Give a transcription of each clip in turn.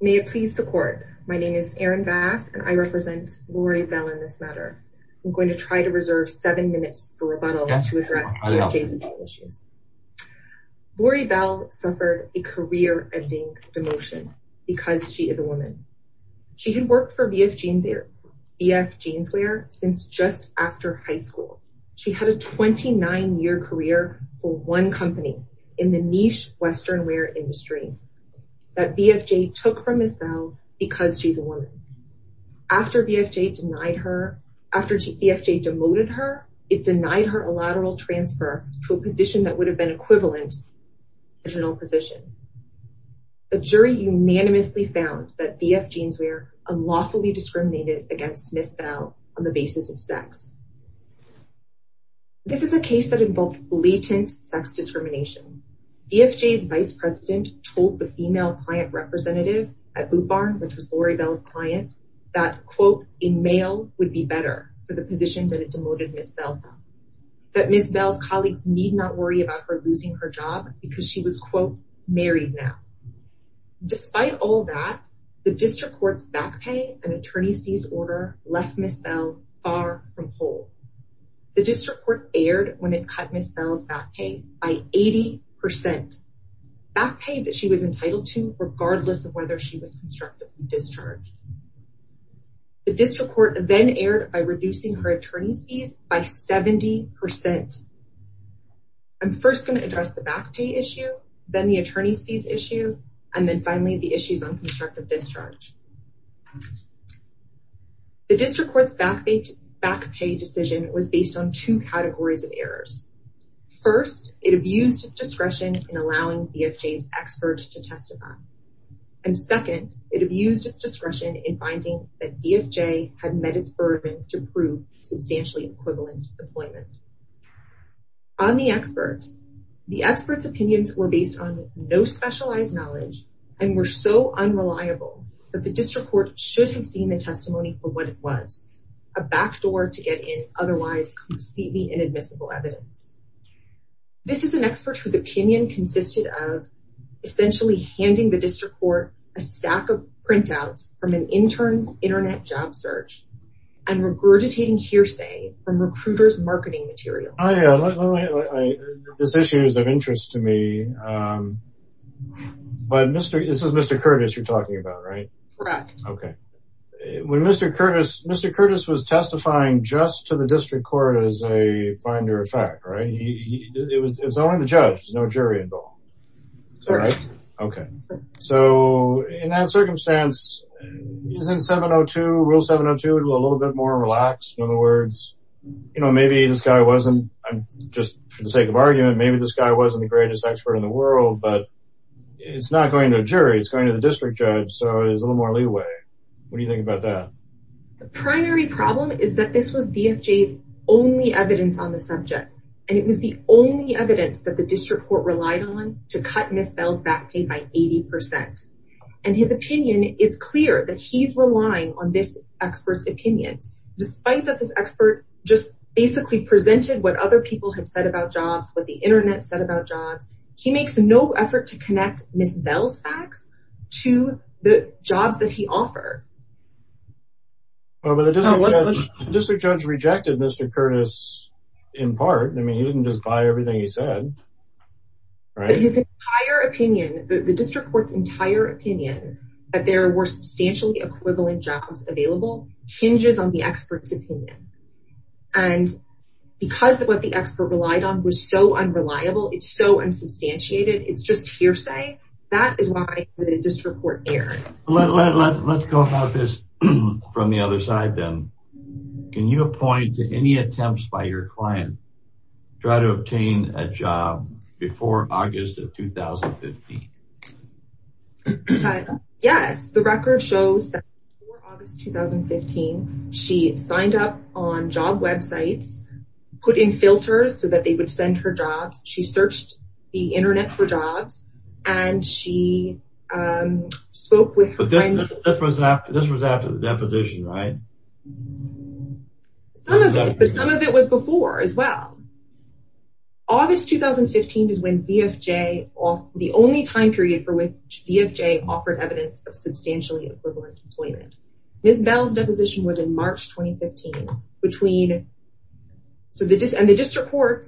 May it please the court, my name is Erin Bass and I represent Lori Bell in this matter. I'm going to try to reserve seven minutes for rebuttal to address the adjacent issues. Lori Bell suffered a career-ending demotion because she is a woman. She had worked for VF Jeanswear since just after high school. She had a 29-year career for one company in the niche western wear industry that VF Jeanswear took from Ms. Bell because she's a woman. After VF Jeanswear demoted her, it denied her a lateral transfer to a position that would have been equivalent to her original position. The jury unanimously found that VF Jeanswear unlawfully discriminated against Ms. Bell on the basis of sex. This is a case that involved blatant sex discrimination. VF Jeanswear's vice president told the female client representative at Boot Barn, which was Lori Bell's client, that, quote, a male would be better for the position that it demoted Ms. Bell from. That Ms. Bell's colleagues need not worry about her losing her job because she was, quote, married now. Despite all that, the district court's back pay and by 80 percent. Back pay that she was entitled to regardless of whether she was constructed from discharge. The district court then erred by reducing her attorney's fees by 70 percent. I'm first going to address the back pay issue, then the attorney's fees issue, and then finally the issues on constructive discharge. The district court's back pay decision was based on two categories of errors. First, it abused its discretion in allowing VF Jeanswear's expert to testify. And second, it abused its discretion in finding that VF Jeanswear had met its burden to prove substantially equivalent employment. On the expert, the expert's opinions were based on no specialized knowledge and were so unreliable that the district court should have seen the testimony for what it was, a backdoor to get in otherwise completely inadmissible evidence. This is an expert whose opinion consisted of essentially handing the district court a stack of printouts from an intern's internet job search and regurgitating hearsay from recruiter's marketing material. This issue is of interest to me, but this is Mr. Curtis you're talking about, right? Correct. When Mr. Curtis was testifying just to the district court as a finder of fact, it was only the judge, no jury involved, right? Okay. So in that circumstance, isn't 702, rule 702 a little bit more relaxed? In other words, you know, maybe this guy wasn't, I'm just for the sake of argument, maybe this guy wasn't the greatest expert in the world, but it's not going to a jury, it's going to the district judge, so it's a little more leeway. What do you think about that? The primary problem is that this was VF Jeanswear's evidence on the subject. And it was the only evidence that the district court relied on to cut Ms. Bell's back paid by 80%. And his opinion is clear that he's relying on this expert's opinion, despite that this expert just basically presented what other people had said about jobs, what the internet said about jobs. He makes no effort to connect Ms. Bell's facts to the jobs that he offered. But the district judge rejected Mr. Curtis in part, I mean, he didn't just buy everything he said, right? But his entire opinion, the district court's entire opinion that there were substantially equivalent jobs available hinges on the expert's opinion. And because of what the expert relied on was so unreliable, it's so unsubstantiated, it's just hearsay. That is why the district court erred. Let's go about this from the other side, then. Can you point to any attempts by your client to try to obtain a job before August of 2015? Yes, the record shows that before August 2015, she signed up on job websites, put in filters so that they would send her jobs. She searched the internet for jobs, and she spoke with... But this was after the deposition, right? But some of it was before as well. August 2015 is when the only time period for which Ms. Bell's deposition was in March 2015. And the district court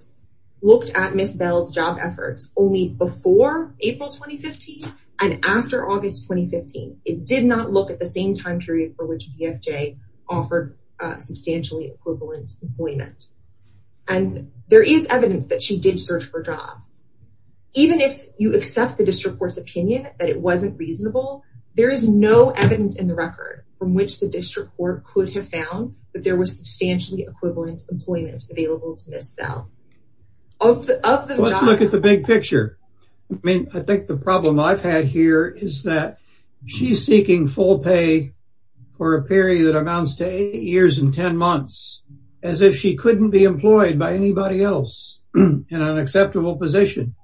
looked at Ms. Bell's job efforts only before April 2015 and after August 2015. It did not look at the same time period for which DFJ offered substantially equivalent employment. And there is evidence that she did search for jobs. Even if you accept the district court's opinion that it wasn't reasonable, there is no evidence in the record from which the district court could have found that there was substantially equivalent employment available to Ms. Bell. Let's look at the big picture. I mean, I think the problem I've had here is that she's seeking full pay for a period that amounts to eight years and 10 months, as if she couldn't be employed by anybody else in an acceptable position.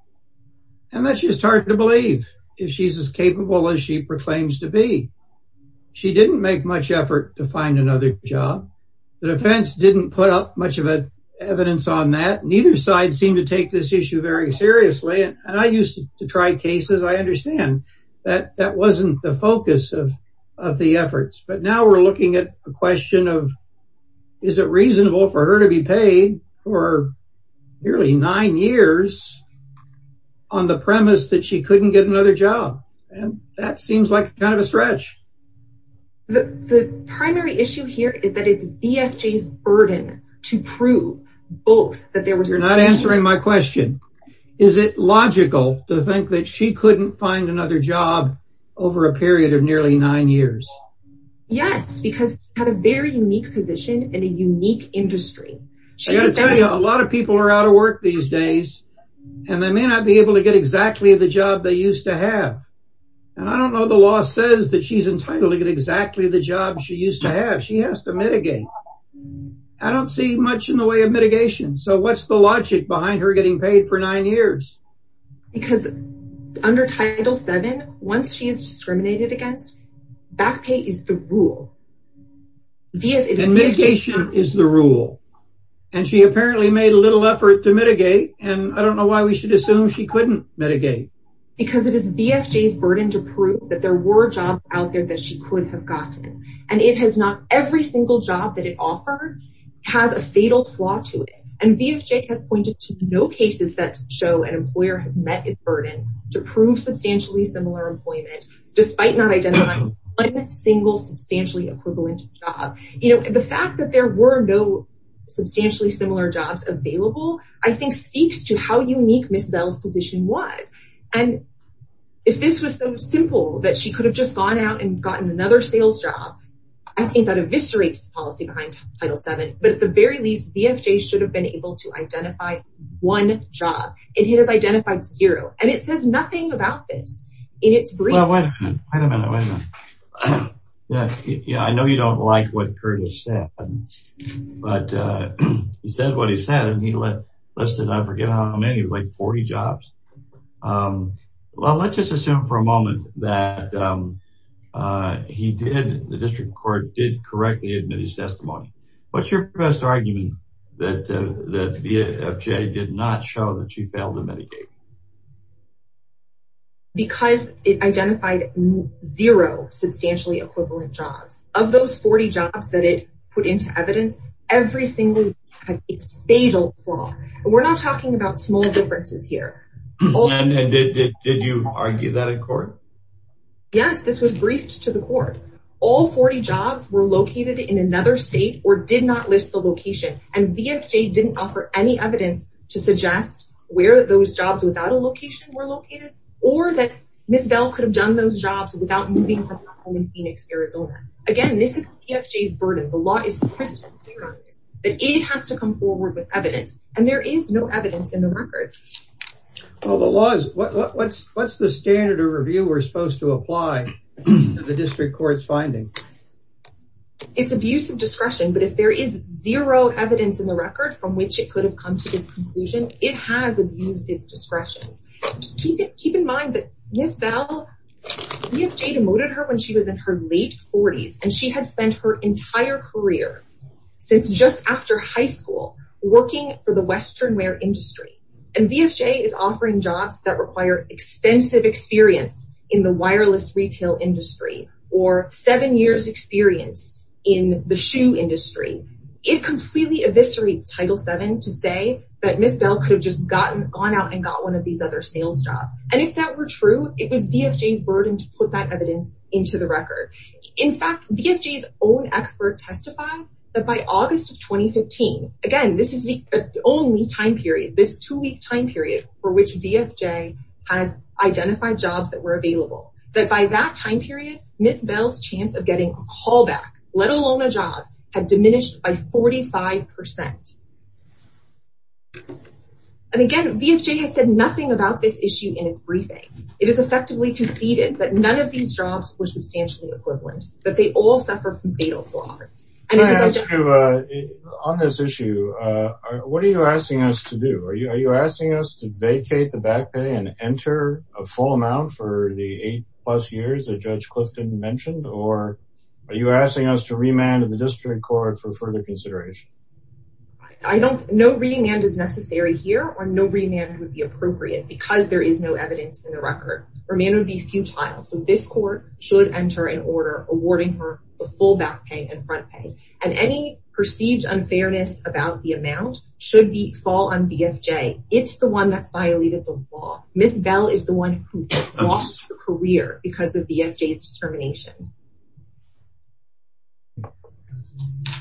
And that's just hard to believe, if she's as capable as she proclaims to be. She didn't make much effort to find another job. The defense didn't put up much of evidence on that. Neither side seemed to take this issue very seriously. And I used to try cases. I understand that that wasn't the focus of the efforts. But now we're looking at a question of, is it reasonable for her to be paid for nearly nine years on the premise that she couldn't get another job? And that seems like kind of a stretch. The primary issue here is that it's DFJ's burden to prove both that there was... You're not answering my question. Is it logical to think that she couldn't find another job over a period of nearly nine years? Yes, because she had a very unique position in a unique industry. A lot of people are out of work these days and they may not be able to get exactly the job they used to have. And I don't know the law says that she's entitled to get exactly the job she used to have. She has to mitigate. I don't see much in the way of mitigation. So what's the logic behind her getting paid for nine years? Because under Title VII, once she is discriminated against, back pay is the rule. And mitigation is the rule. And she apparently made a little effort to mitigate. And I don't know why we should assume she couldn't mitigate. Because it is DFJ's burden to prove that there were jobs out there that she could have gotten. And it has not... Every single job that it offered has a fatal flaw to it. And substantially similar employment, despite not identifying a single substantially equivalent job. The fact that there were no substantially similar jobs available, I think speaks to how unique Ms. Bell's position was. And if this was so simple that she could have just gone out and gotten another sales job, I think that eviscerates policy behind Title VII. But at the very least, DFJ should have been able to identify one job. And he has identified zero. And it says nothing about this. In its briefs... Well, wait a minute, wait a minute. Yeah, I know you don't like what Curtis said. But he said what he said. And he listed, I forget how many, like 40 jobs. Well, let's just assume for a moment that he did, the district court did correctly admit his that DFJ did not show that she failed in many cases. Because it identified zero substantially equivalent jobs. Of those 40 jobs that it put into evidence, every single one has a fatal flaw. And we're not talking about small differences here. And did you argue that in court? Yes, this was briefed to the court. All 40 jobs were located in another state or did not list the location. And DFJ didn't offer any evidence to suggest where those jobs without a location were located. Or that Ms. Bell could have done those jobs without moving from her home in Phoenix, Arizona. Again, this is DFJ's burden. The law is crystal clear on this. But it has to come forward with evidence. And there is no evidence in the record. Well, the law is... What's the standard of review we're supposed to apply to the district court's finding? It's abuse of discretion. But if there is zero evidence in the record from which it could have come to this conclusion, it has abused its discretion. Keep in mind that Ms. Bell, DFJ demoted her when she was in her late 40s. And she had spent her entire career, since just after high school, working for the Western industry. And DFJ is offering jobs that require extensive experience in the wireless retail industry or seven years experience in the shoe industry. It completely eviscerates Title VII to say that Ms. Bell could have just gone out and got one of these other sales jobs. And if that were true, it was DFJ's burden to put that evidence into the record. In fact, DFJ's own expert testified that by August of 2015, again, this is the only time period, this two-week time period for which DFJ has identified jobs that were available, that by that time period, Ms. Bell's chance of getting a callback, let alone a job, had diminished by 45%. And again, DFJ has said nothing about this issue in its briefing. It has effectively conceded that none of these jobs were substantially equivalent, but they all suffer from fatal flaws. Can I ask you, on this issue, what are you asking us to do? Are you asking us to vacate the back pay and enter a full amount for the eight plus years that Judge Clifton mentioned, or are you asking us to remand the district court for further consideration? No remand is necessary here, or no remand would be appropriate because there is no evidence in the record. Remand would be futile, so this court should enter an order awarding her the full back pay and front pay. And any perceived unfairness about the amount should fall on DFJ. It's the one that's violated the law. Ms. Bell is the one who lost her career because of DFJ's discrimination.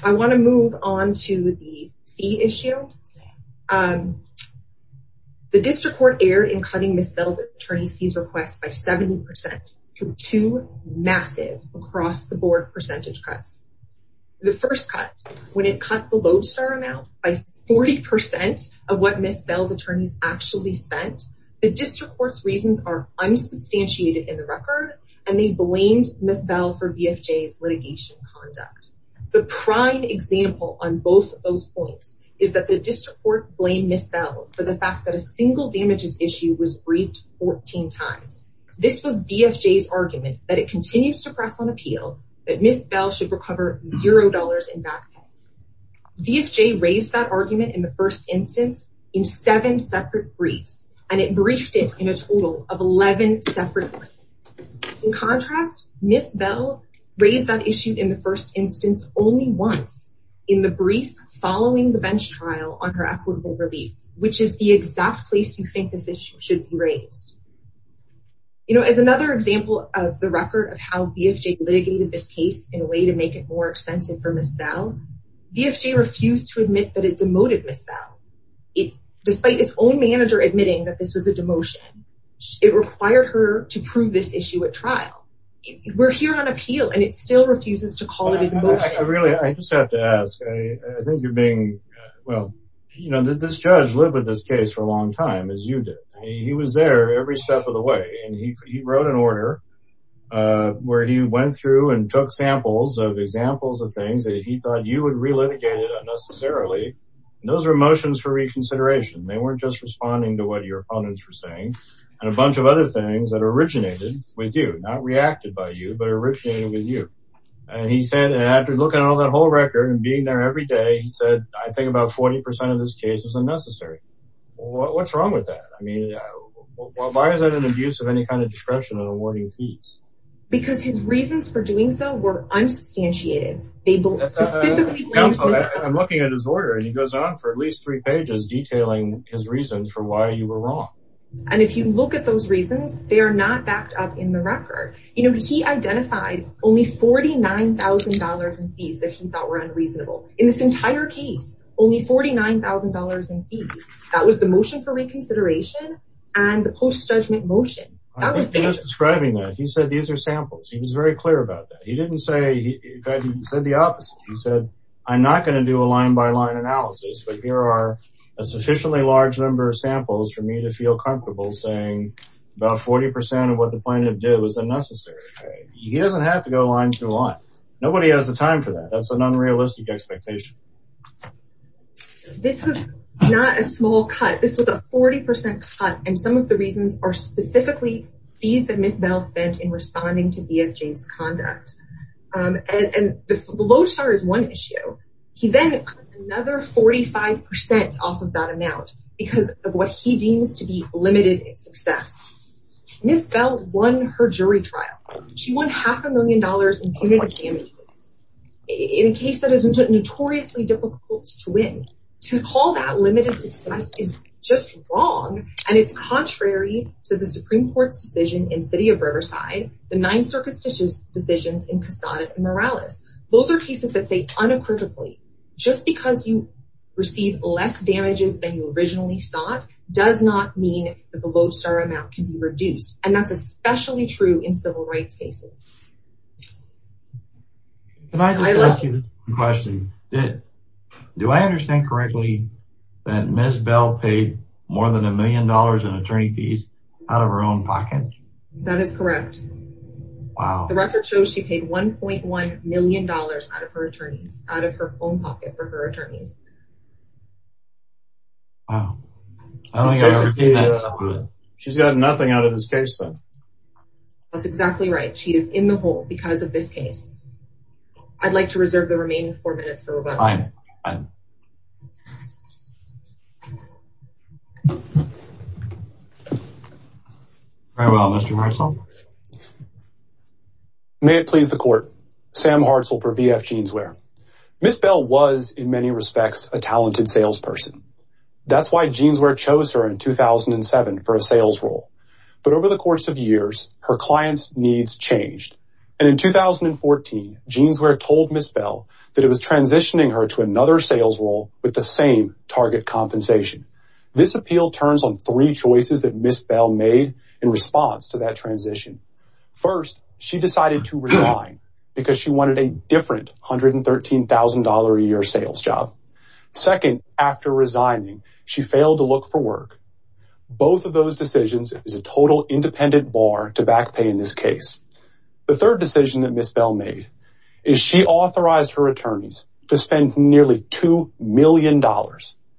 I want to move on to the fee issue. The district court erred in cutting Ms. Bell's fees request by 70% for two massive across-the-board percentage cuts. The first cut, when it cut the lodestar amount by 40% of what Ms. Bell's attorneys actually spent, the district court's reasons are unsubstantiated in the record, and they blamed Ms. Bell for DFJ's litigation conduct. The prime example on both of those points is that the district court blamed Ms. Bell for the fact that a single damages issue was briefed 14 times. This was DFJ's argument that it continues to press on appeal that Ms. Bell should recover zero dollars in back pay. DFJ raised that argument in the first instance in seven separate briefs, and it briefed it in a total of 11 separate briefs. In contrast, Ms. Bell raised that issue in the first instance only once in the brief following the bench trial on her equitable relief, which is the exact place you think this issue should be raised. As another example of the record of how DFJ litigated this case in a way to make it more expensive for Ms. Bell, DFJ refused to admit that it demoted Ms. Bell. Despite its own manager admitting that this was a demotion, it required her to prove this issue at trial. We're here on You know, this judge lived with this case for a long time, as you did. He was there every step of the way, and he wrote an order where he went through and took samples of examples of things that he thought you would relitigate it unnecessarily. Those are motions for reconsideration. They weren't just responding to what your opponents were saying, and a bunch of other things that originated with you, not reacted by you, but originated with you. And he said, after looking at all that whole record and being there every day, he said, I think about 40% of this case was unnecessary. What's wrong with that? I mean, why is that an abuse of any kind of discretion in awarding fees? Because his reasons for doing so were unsubstantiated. I'm looking at his order, and he goes on for at least three pages detailing his reasons for why you were wrong. And if you look at those reasons, they are not backed up in the record. You know, he identified only $49,000 in fees that he thought unreasonable. In this entire case, only $49,000 in fees. That was the motion for reconsideration and the post-judgment motion. He was describing that. He said, these are samples. He was very clear about that. He didn't say, he said the opposite. He said, I'm not going to do a line by line analysis, but here are a sufficiently large number of samples for me to feel comfortable saying about 40% of what the plaintiff did was unnecessary. He doesn't have to go line to line. Nobody has the time for that. That's an unrealistic expectation. This was not a small cut. This was a 40% cut. And some of the reasons are specifically fees that Ms. Bell spent in responding to BF James' conduct. And the lodestar is one issue. He then cut another 45% off of that amount because of what he deems to be limited in success. Ms. Bell won her jury trial. She won half a million dollars in punitive damages in a case that is notoriously difficult to win. To call that limited success is just wrong. And it's contrary to the Supreme Court's decision in City of Riverside, the Ninth Circuit's decisions in Casada and Morales. Those are cases that say unequivocally, just because you receive less damages than you originally sought does not mean that the lodestar amount can be reduced. And that's especially true in civil rights cases. Can I just ask you this question? Do I understand correctly that Ms. Bell paid more than a million dollars in attorney fees out of her own pocket? That is correct. The record shows she paid $1.1 million out of her own pocket for her attorneys. Wow. She's got nothing out of this case, though. That's exactly right. She is in the hole because of this case. I'd like to reserve the remaining four minutes for rebuttal. Very well, Mr. Hartzell. May it please the court. Sam Hartzell for BF Jeanswear. Ms. Bell was, in many respects, a talented salesperson. That's why Jeanswear chose her in 2007 for a sales role. But over the course of years, her client's needs changed. And in 2014, Jeanswear told Ms. Bell that it was transitioning her to another sales role with the same target compensation. This appeal turns on three choices that Ms. Bell made in response to that transition. First, she decided to resign because she wanted a different $113,000 a year sales job. Second, after resigning, she failed to look for work. Both of those decisions is a total independent bar to back pay in this case. The third decision that Ms. Bell made is she authorized her attorneys to spend nearly $2 million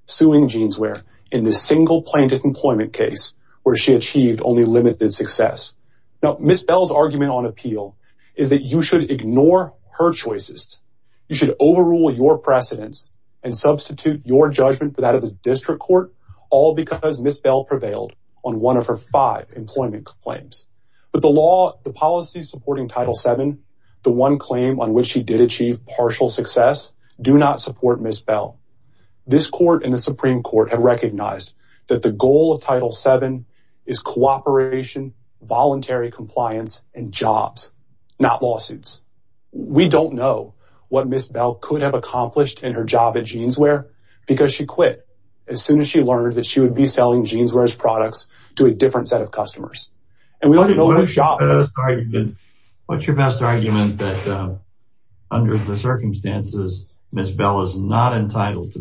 suing Jeanswear in this single plaintiff employment case where she achieved only limited success. Now, Ms. Bell's argument on appeal is that you should ignore her choices. You should overrule your precedents and substitute your judgment for that of the district court, all because Ms. Bell prevailed on one of her five employment claims. But the law, the policy supporting Title VII, the one claim on which she did achieve partial success, do not support Ms. Bell. This court and the Supreme Court have recognized that the goal of voluntary compliance and jobs, not lawsuits. We don't know what Ms. Bell could have accomplished in her job at Jeanswear because she quit as soon as she learned that she would be selling Jeanswear's products to a different set of customers. And we don't know her job. What's your best argument that under the circumstances, Ms. Bell is not entitled to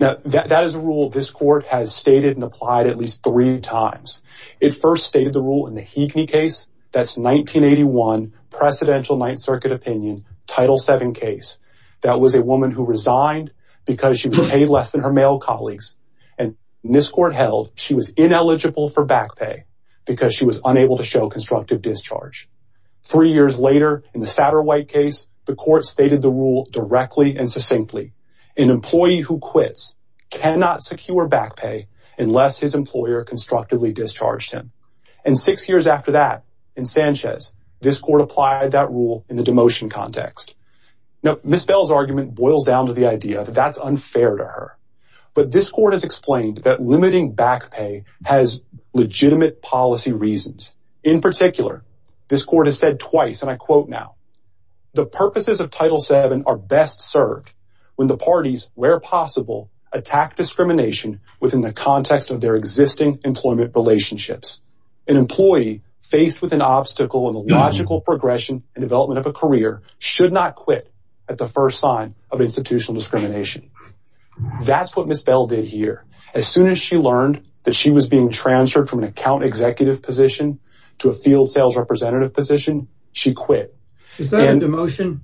Now, that is a rule this court has stated and applied at least three times. It first stated the rule in the Heekney case. That's 1981, Presidential Ninth Circuit opinion, Title VII case. That was a woman who resigned because she was paid less than her male colleagues. And this court held she was ineligible for back pay because she was unable to show constructive discharge. Three years later, in the Satterwhite case, the court stated the rule directly and succinctly. An employee who quits cannot secure back pay unless his employer constructively discharged him. And six years after that, in Sanchez, this court applied that rule in the demotion context. Now, Ms. Bell's argument boils down to the idea that that's unfair to her. But this court has explained that limiting back pay has legitimate policy reasons. In particular, this court has said twice, and I quote now, the purposes of Title VII are best served when the parties, where possible, attack discrimination within the context of their existing employment relationships. An employee faced with an obstacle in the logical progression and development of a career should not quit at the first sign of institutional discrimination. That's what Ms. Bell did here. As soon as she learned that she was being transferred from an account executive position to a field sales representative position, she quit. Is that a demotion?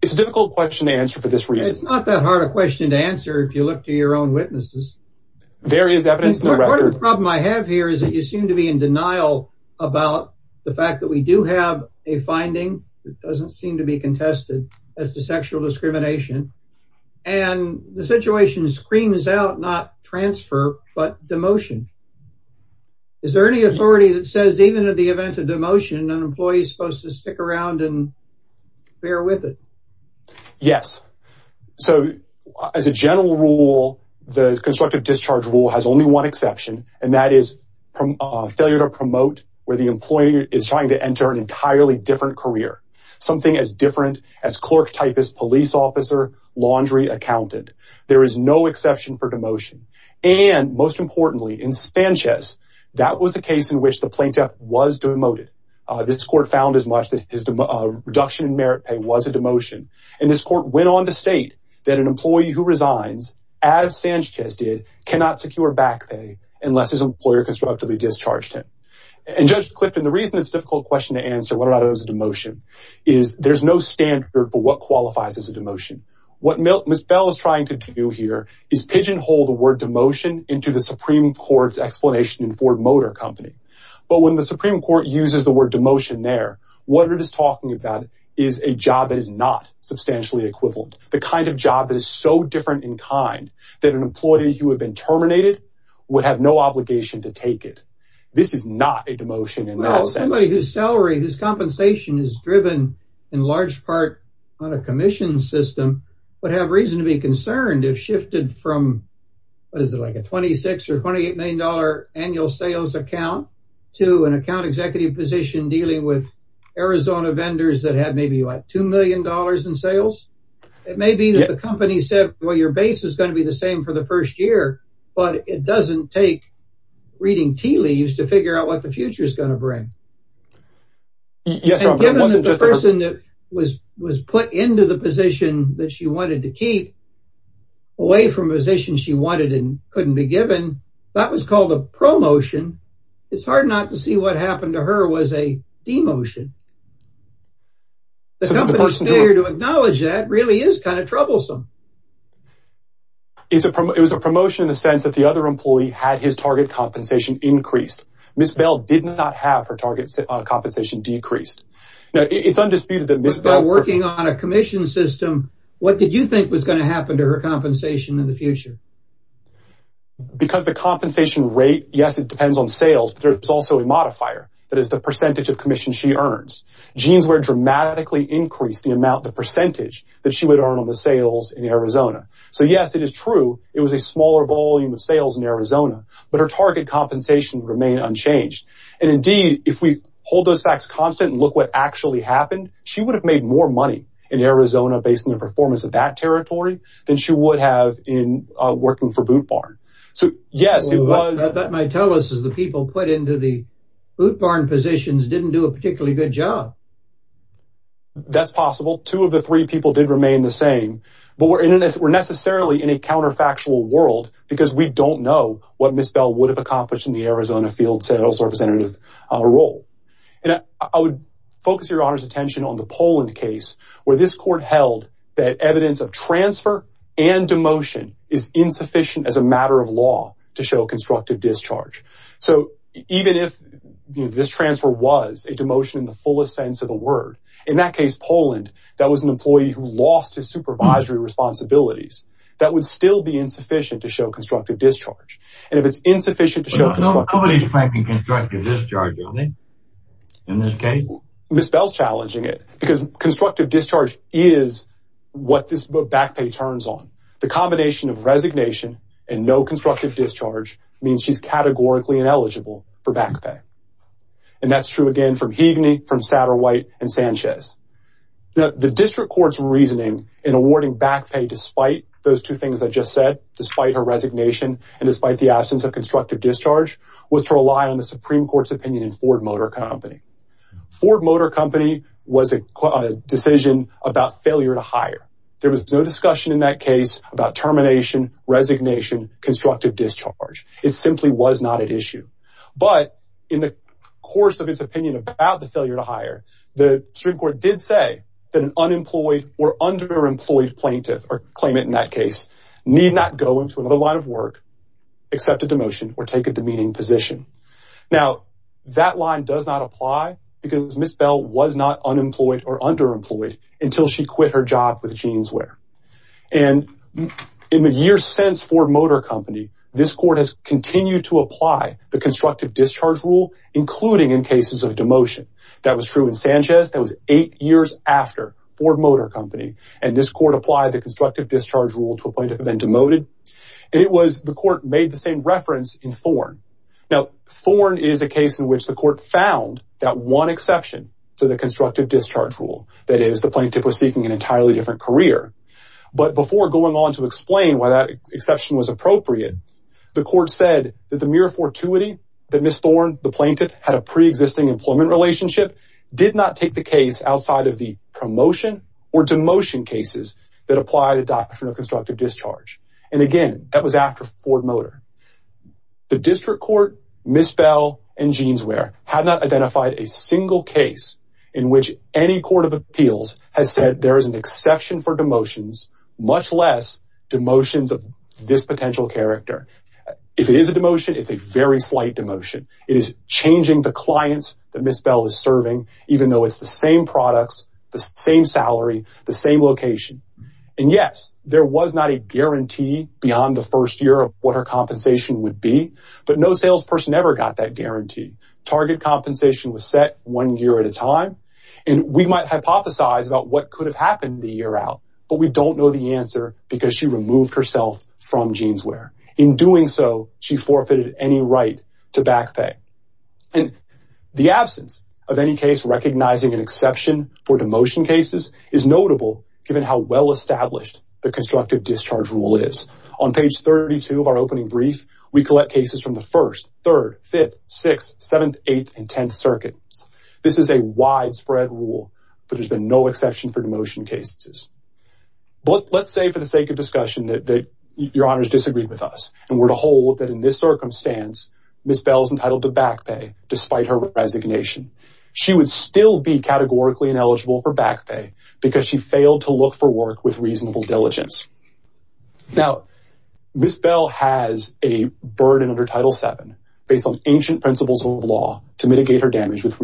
It's a difficult question to answer for this reason. It's not that hard a question to answer if you look to your own witnesses. There is evidence in the record. Part of the problem I have here is that you seem to be in denial about the fact that we do have a finding that doesn't seem to be contested as to sexual discrimination. And the situation screams out not transfer, but demotion. Is there any authority that says even at the event of demotion, an employee is supposed to stick around and bear with it? Yes. So as a general rule, the constructive discharge rule has only one exception, and that is failure to promote where the employee is trying to enter an entirely different career, something as different as clerk, typist, police officer, laundry accountant. There is no exception for demotion. And most importantly, in Sanchez, that was a case in which the plaintiff was demoted. This court found as much that his reduction in merit pay was a demotion. And this court went on to state that an employee who resigns as Sanchez did cannot secure back pay unless his employer constructively discharged him. And Judge Clifton, the reason it's a difficult question to answer whether or not it was a demotion is there's no standard for what qualifies as a demotion. What Ms. Bell is trying to do here is pigeonhole the word demotion into the Supreme Court's explanation in Ford Motor Company. But when the Supreme Court uses the word demotion there, what it is talking about is a job that is not substantially equivalent. The kind of job that is so different in kind that an employee who had been terminated would have no obligation to take it. This is not a demotion in that sense. Well, somebody whose salary, whose compensation is driven in large part on a commission system would have reason to be concerned if shifted from what is it like a $26 or $28 million annual sales account to an account executive position dealing with Arizona vendors that have maybe like $2 million in sales. It may be that the company said, well, your base is going to be the same for the first year, but it doesn't take reading tea leaves to figure out what the future is going to bring. Yes. Given that the person that was was put into the position that she wanted to keep, away from positions she wanted and couldn't be given, that was called a promotion. It's hard not to see what happened to her was a demotion. The company's failure to acknowledge that really is kind of troublesome. It was a promotion in the sense that the other employee had his target compensation increased. Ms. Bell did not have her target compensation decreased. Now, it's undisputed that Ms. Bell working on a commission system, what did you think was going to happen to her compensation in the future? Because the compensation rate, yes, it depends on sales. There's also a modifier. That is the percentage of commission she earns. Jeanswear dramatically increased the amount, the percentage that she would earn on the sales in Arizona. So, yes, it is true. It was a smaller volume of sales in Arizona, but her target compensation remained unchanged. And indeed, if we hold those facts constant and look what actually happened, she would have made more money in Arizona based on the performance of that territory than she would have in working for Boot Barn. So, yes, it was... That might tell us is the people put into the Boot Barn positions didn't do a particularly good job. That's possible. Two of the three people did remain the same, but we're necessarily in a counterfactual world because we don't know what Ms. Bell would have accomplished in the Arizona field sales representative role. And I would focus your attention on the Poland case where this court held that evidence of transfer and demotion is insufficient as a matter of law to show constructive discharge. So even if this transfer was a demotion in the fullest sense of the word, in that case, Poland, that was an employee who lost his supervisory responsibilities. That would still be insufficient to show constructive discharge. And if it's insufficient to show constructive... Nobody's effecting constructive because constructive discharge is what this back pay turns on. The combination of resignation and no constructive discharge means she's categorically ineligible for back pay. And that's true, again, from Higney, from Satterwhite, and Sanchez. The district court's reasoning in awarding back pay despite those two things I just said, despite her resignation, and despite the absence of constructive discharge, was to rely on the Supreme Court's opinion in Ford Motor Company. Ford Motor Company was a decision about failure to hire. There was no discussion in that case about termination, resignation, constructive discharge. It simply was not at issue. But in the course of its opinion about the failure to hire, the Supreme Court did say that an unemployed or underemployed plaintiff, or claimant in that case, need not go into another line of work, accept a demotion, or take a demeaning position. Now, that line does not apply because Ms. Bell was not unemployed or underemployed until she quit her job with Jeanswear. And in the years since Ford Motor Company, this court has continued to apply the constructive discharge rule, including in cases of demotion. That was true in Sanchez. That was eight years after Ford Motor Company. And this court applied the constructive discharge rule to a plaintiff who had been demoted. And it was... in Thorn. Now, Thorn is a case in which the court found that one exception to the constructive discharge rule. That is, the plaintiff was seeking an entirely different career. But before going on to explain why that exception was appropriate, the court said that the mere fortuity that Ms. Thorn, the plaintiff, had a pre-existing employment relationship, did not take the case outside of the promotion or demotion cases that apply the doctrine of constructive discharge. And again, that was after Ford Motor. The district court, Ms. Bell, and Jeanswear have not identified a single case in which any court of appeals has said there is an exception for demotions, much less demotions of this potential character. If it is a demotion, it's a very slight demotion. It is changing the clients that Ms. Bell is serving, even though it's the same products, the same salary, the same location. And yes, there was not a guarantee beyond the first year of what her compensation would be, but no salesperson ever got that guarantee. Target compensation was set one year at a time. And we might hypothesize about what could have happened the year out, but we don't know the answer because she removed herself from Jeanswear. In doing so, she forfeited any right to back pay. And the absence of any case recognizing an exception for demotion cases is notable given how well-established the constructive discharge rule is. On page 32 of our opening brief, we collect cases from the first, third, fifth, sixth, seventh, eighth, and tenth circuits. This is a widespread rule, but there's been no exception for demotion cases. But let's say for the sake of discussion that your honors disagreed with us and were to hold that in this circumstance, Ms. Bell is entitled to back pay despite her resignation. She would still be categorically ineligible for back pay because she failed to look for work with reasonable diligence. Now, Ms. Bell has a burden under Title VII based on ancient principles of law to mitigate her damages with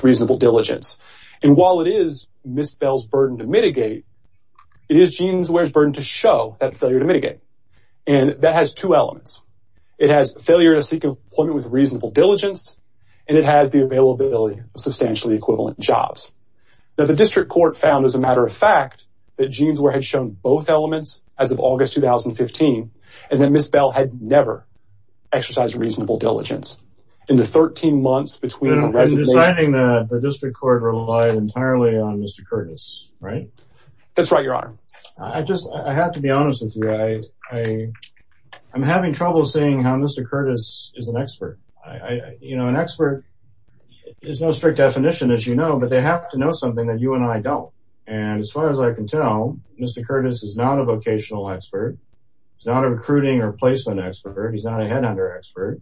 reasonable diligence. And while it is Ms. Bell's burden to mitigate, it is Jeanswear's two elements. It has failure to seek employment with reasonable diligence, and it has the availability of substantially equivalent jobs. Now, the district court found as a matter of fact that Jeanswear had shown both elements as of August 2015, and that Ms. Bell had never exercised reasonable diligence. In the 13 months between her resignation... And I'm deciding that the district court relied entirely on Mr. Curtis, right? That's right, your honor. I have to be honest with you. I'm having trouble seeing how Mr. Curtis is an expert. An expert is no strict definition, as you know, but they have to know something that you and I don't. And as far as I can tell, Mr. Curtis is not a vocational expert. He's not a recruiting or placement expert. He's not a headhunter expert.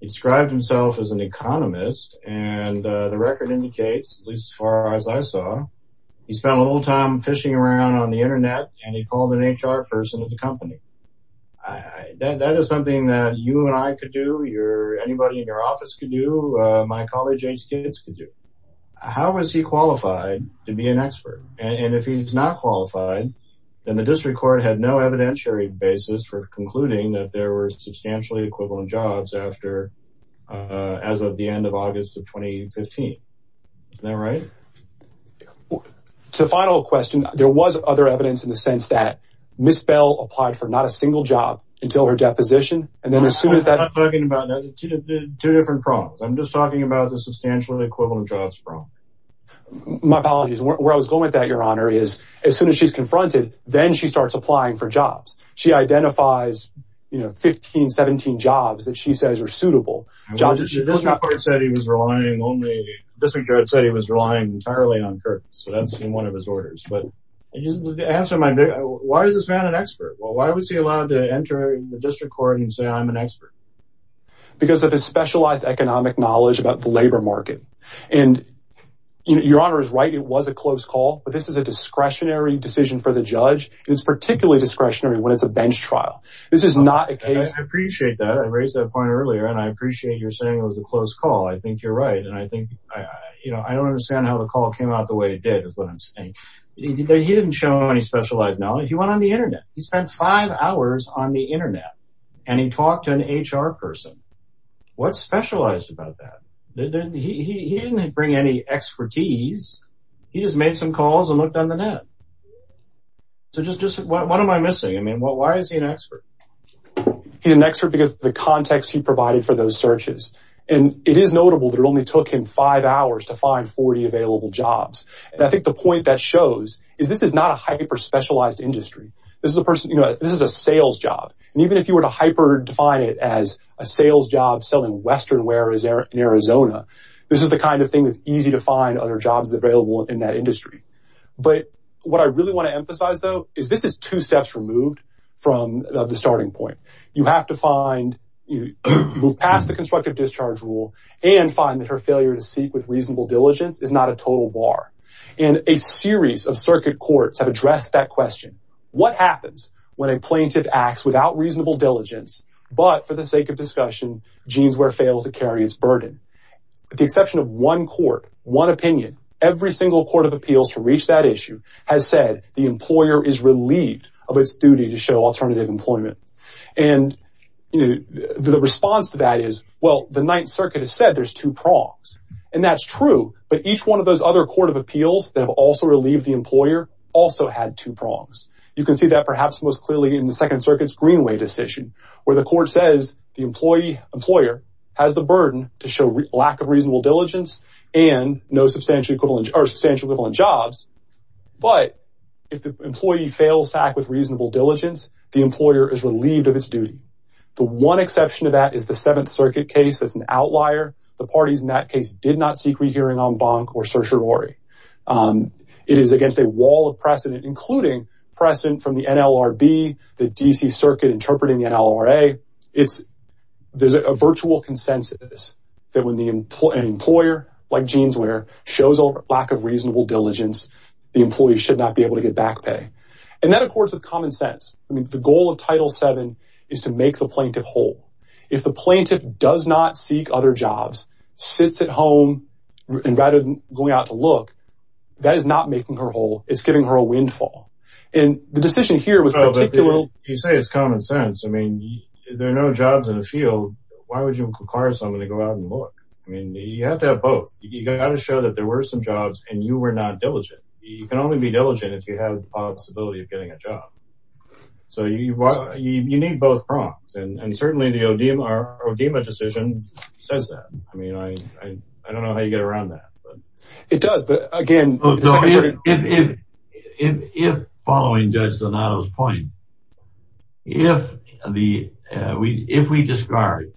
He described himself as an economist, and the record indicates, at least as far as I saw, he spent a little time fishing around on the internet, and he called an HR person at the company. That is something that you and I could do. Anybody in your office could do. My college-aged kids could do. How is he qualified to be an expert? And if he's not qualified, then the district court had no evidentiary basis for concluding that there were substantially equivalent jobs as of the end of August of 2015. Is that right? To the final question, there was other evidence in the sense that Ms. Bell applied for not a single job until her deposition, and then as soon as that... I'm not talking about that. Two different problems. I'm just talking about the substantially equivalent jobs problem. My apologies. Where I was going with that, your honor, is as soon as she's confronted, then she starts applying for jobs. She identifies 15, 17 jobs that she says are suitable. The district judge said he was relying entirely on Kirk, so that's in one of his orders. Why is this man an expert? Why was he allowed to enter the district court and say, I'm an expert? Because of his specialized economic knowledge about the labor market. Your honor is right. It was a close call, but this is a discretionary decision for the judge. It's particularly discretionary when it's a bench trial. This is not a case... I appreciate that. I raised that point earlier, and I appreciate you're saying it was a close call. I think you're right. I don't understand how the call came out the way it did is what I'm saying. He didn't show any specialized knowledge. He went on the internet. He spent five hours on the internet, and he talked to an HR person. What's specialized about that? He didn't bring any expertise. He just made some calls and looked on the net. What am I missing? Why is he an expert? He's an expert because of the context he provided for those searches. It is notable that it only took him five hours to find 40 available jobs. I think the point that shows is this is not a hyper-specialized industry. This is a sales job. Even if you were to hyper-define it as a sales job selling Western ware in Arizona, this is the kind of thing that's easy to find other jobs available in that industry. What I really want to emphasize, though, is this is two steps removed from the starting point. You have to move past the constructive discharge rule and find that her failure to seek with reasonable diligence is not a total bar. A series of circuit courts have addressed that question. What happens when a plaintiff acts without reasonable diligence, but for the sake of discussion, jeans wear fails to carry its burden? With the exception of one court, one opinion, every single court of appeals to reach that issue has said the employer is unqualified. The response to that is, well, the Ninth Circuit has said there's two prongs, and that's true, but each one of those other court of appeals that have also relieved the employer also had two prongs. You can see that perhaps most clearly in the Second Circuit's Greenway decision, where the court says the employer has the burden to show lack of reasonable diligence and no substantial equivalent jobs, but if the employee fails to act with reasonable diligence, the employer is relieved of its duty. The one exception to that is the Seventh Circuit case that's an outlier. The parties in that case did not seek rehearing en banc or certiorari. It is against a wall of precedent, including precedent from the NLRB, the D.C. Circuit interpreting the NLRA. There's a virtual consensus that when an employer, like jeans wear, shows a lack of reasonable diligence, the employee should not be able to get back pay. And that accords with common sense. I mean, the goal of Title VII is to make the plaintiff whole. If the plaintiff does not seek other jobs, sits at home, and rather than going out to look, that is not making her whole. It's giving her a windfall. And the decision here was particular. You say it's common sense. I mean, there are no jobs in the field. Why would you require someone to go out and look? I mean, you have to have both. You got to show that there were some jobs and you were not diligent. You can only be diligent if you have the possibility of getting a job. So you need both prongs. And certainly the ODIMA decision says that. I mean, I don't know how you get around that. It does, but again, if following Judge Donato's point, if we discard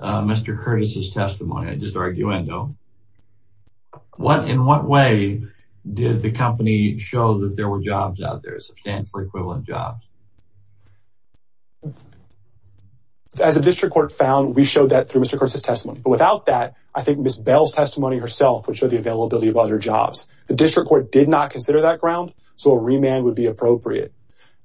Mr. Curtis's testimony, I just arguendo, in what way did the company show that there were jobs out there, substantial equivalent jobs? As a district court found, we showed that through Mr. Curtis's testimony. But without that, I think Ms. Bell's testimony herself would show the availability of other jobs. The district court did not consider that ground, so a remand would be appropriate.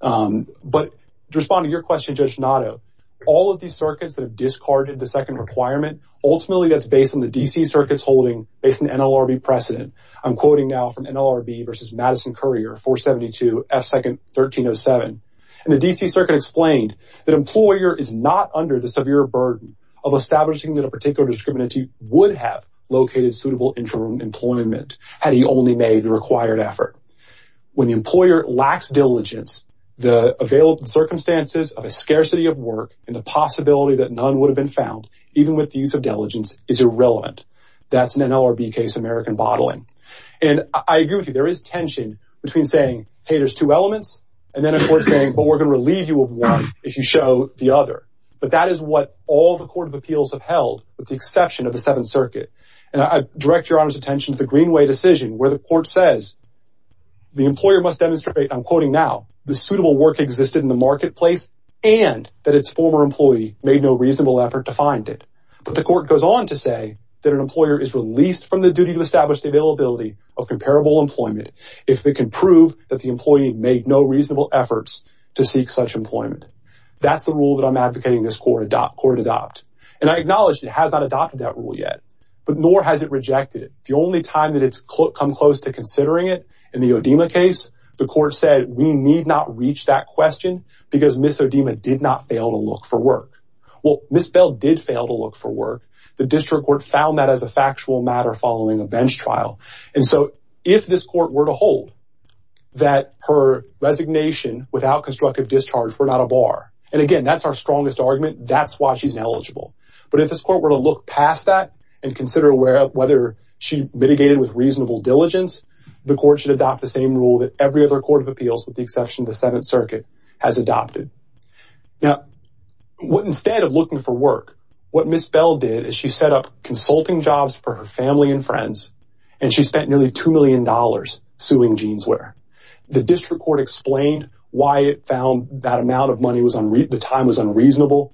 But to respond to your question, Judge Donato, all of these circuits that have discarded the requirement, ultimately that's based on the D.C. circuit's holding, based on NLRB precedent. I'm quoting now from NLRB versus Madison Courier, 472 F2nd 1307. And the D.C. circuit explained that employer is not under the severe burden of establishing that a particular discriminant would have located suitable interim employment had he only made the required effort. When the employer lacks diligence, the available circumstances of a scarcity of work and the even with the use of diligence is irrelevant. That's an NLRB case of American bottling. And I agree with you, there is tension between saying, hey, there's two elements, and then a court saying, but we're going to relieve you of one if you show the other. But that is what all the court of appeals have held with the exception of the 7th circuit. And I direct your honor's attention to the Greenway decision where the court says, the employer must demonstrate, I'm quoting now, the suitable work existed in the marketplace and that its former employee made no reasonable effort to find it. But the court goes on to say that an employer is released from the duty to establish the availability of comparable employment if they can prove that the employee made no reasonable efforts to seek such employment. That's the rule that I'm advocating this court adopt. And I acknowledge it has not adopted that rule yet, but nor has it rejected it. The only time that it's come close to considering it in the Odema case, the court said we need not reach that question because Ms. Odema did not fail to look for work. Well, Ms. Bell did fail to look for work. The district court found that as a factual matter following a bench trial. And so if this court were to hold that her resignation without constructive discharge were not a bar, and again, that's our strongest argument, that's why she's eligible. But if this court were to look past that and consider whether she mitigated with reasonable diligence, the court should adopt the same rule that every other court of appeals, with the exception of the Seventh Circuit, has adopted. Now, instead of looking for work, what Ms. Bell did is she set up consulting jobs for her family and friends, and she spent nearly $2 million suing Jeanswear. The district court explained why it found that amount of money, the time was unreasonable.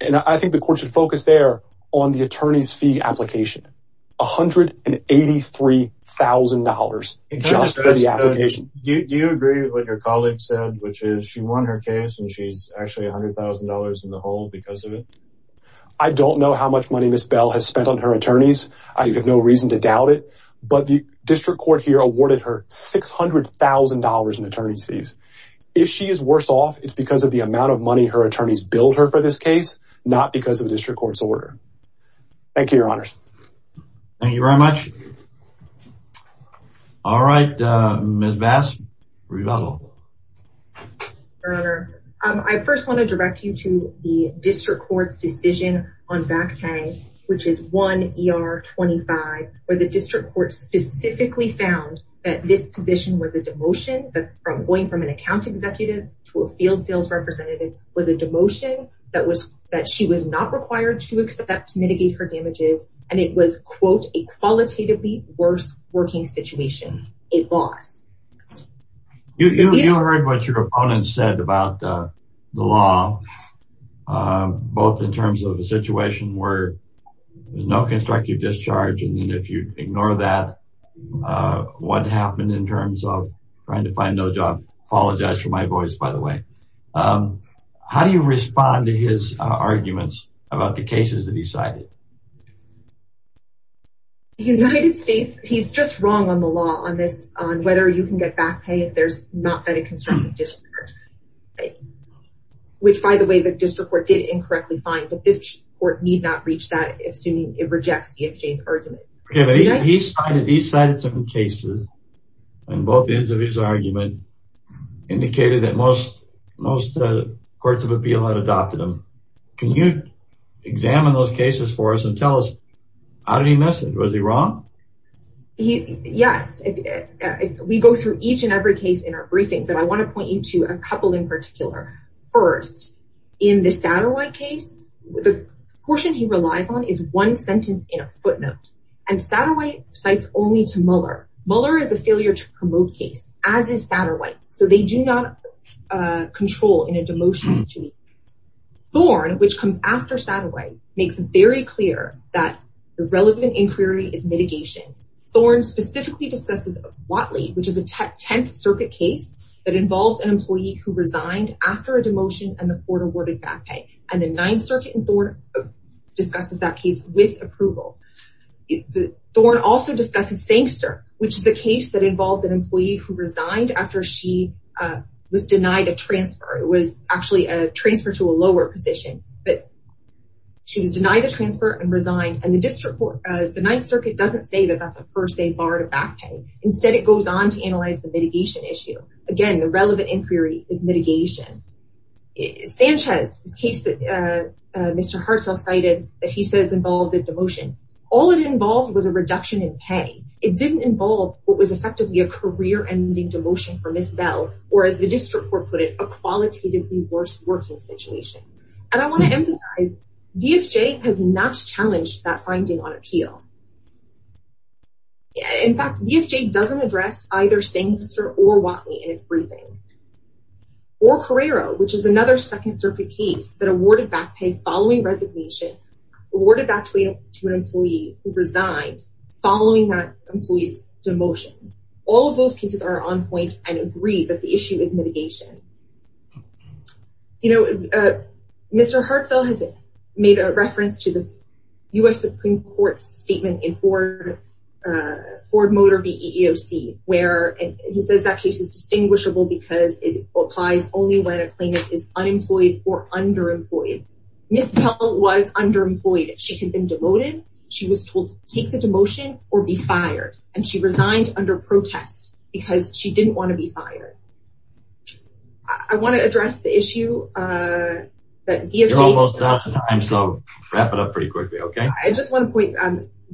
And I think the court should focus there on the attorney's fee application, $183,000 just for the application. Do you agree with what your colleague said, which is she won her case and she's actually $100,000 in the hole because of it? I don't know how much money Ms. Bell has spent on her attorneys. I have no reason to doubt it, but the district court here awarded her $600,000 in attorney's fees. If she is worse off, it's because of the amount of money her attorneys billed her for this order. Thank you, Your Honors. Thank you very much. All right, Ms. Bass, were you available? Your Honor, I first want to direct you to the district court's decision on back pay, which is 1 ER 25, where the district court specifically found that this position was a demotion, that going from an account executive to a field sales representative was a demotion that she was not required to accept to mitigate her damages. And it was, quote, a qualitatively worse working situation, a loss. You heard what your opponent said about the law, both in terms of the situation where there's no constructive discharge. And if you ignore that, what happened in terms of trying to find no job, apologize for my voice, by the way. How do you respond to his arguments about the cases that he cited? The United States, he's just wrong on the law on this, on whether you can get back pay if there's not been a constructive discharge. Which, by the way, the district court did incorrectly find, but this court need not reach that assuming it rejects EFJ's argument. Yeah, but he cited some cases on both ends of his argument, indicated that most courts of appeal had adopted them. Can you examine those cases for us and tell us how did he miss it? Was he wrong? Yes, we go through each and every case in our briefing, but I want to point you to a couple in particular. First, in the Satterwhite case, the portion he relies on is one sentence in a footnote. And Satterwhite cites only to Mueller. Mueller is a failure to promote case, as is Satterwhite. So they do not control in a demotion. Thorn, which comes after Satterwhite, makes it very clear that the relevant inquiry is mitigation. Thorn specifically discusses Watley, which is a 10th circuit case that involves an employee who resigned after a demotion and the court awarded back pay. And the court also discusses Sankster, which is a case that involves an employee who resigned after she was denied a transfer. It was actually a transfer to a lower position, but she was denied a transfer and resigned. And the district court, the ninth circuit doesn't say that that's a first aid bar to back pay. Instead, it goes on to analyze the mitigation issue. Again, the relevant inquiry is mitigation. Sanchez, this case that Mr. Hartsell cited, that he says involved a demotion. All it involved was a reduction in pay. It didn't involve what was effectively a career-ending demotion for Ms. Bell, or as the district court put it, a qualitatively worse working situation. And I want to emphasize, VFJ has not challenged that finding on appeal. In fact, VFJ doesn't address either Sankster or Watley in its briefing. Or Carrero, which is another second circuit case that awarded back pay following resignation, awarded back to an employee who resigned following that employee's demotion. All of those cases are on point and agree that the issue is mitigation. Mr. Hartsell has made a reference to the US Supreme Court's statement in Ford Motor v. EEOC, where he says that case is distinguishable because it applies only when a claimant is unemployed or underemployed. She had been demoted, she was told to take the demotion or be fired, and she resigned under protest because she didn't want to be fired. I want to address the issue that VFJ... You're almost out of time, so wrap it up pretty quickly, okay? I just want to point,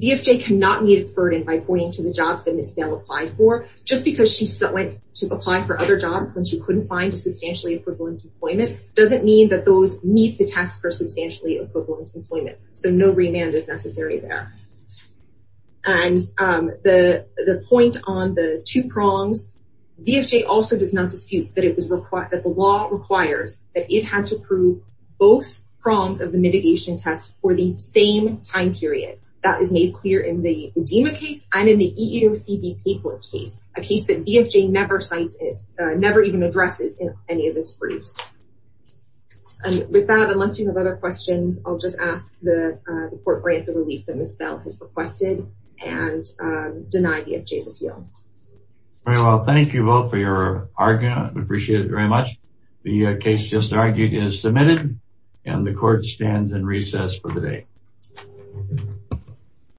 VFJ cannot meet its burden by pointing to the jobs that Ms. Bell applied for. Just because she went to apply for other jobs when she couldn't find a substantially equivalent employment, doesn't mean that those meet the test for substantially equivalent employment. So no remand is necessary there. And the point on the two prongs, VFJ also does not dispute that the law requires that it had to prove both prongs of the mitigation test for the same time period. That is made clear in the Udima case and in the EEOC v. Papert case, a case that VFJ never even addresses in any of its briefs. And with that, unless you have other questions, I'll just ask the court grant the relief that Ms. Bell has requested and deny VFJ's appeal. Very well, thank you both for your argument. I appreciate it very much. The case just argued is submitted and the court stands in recess for the day.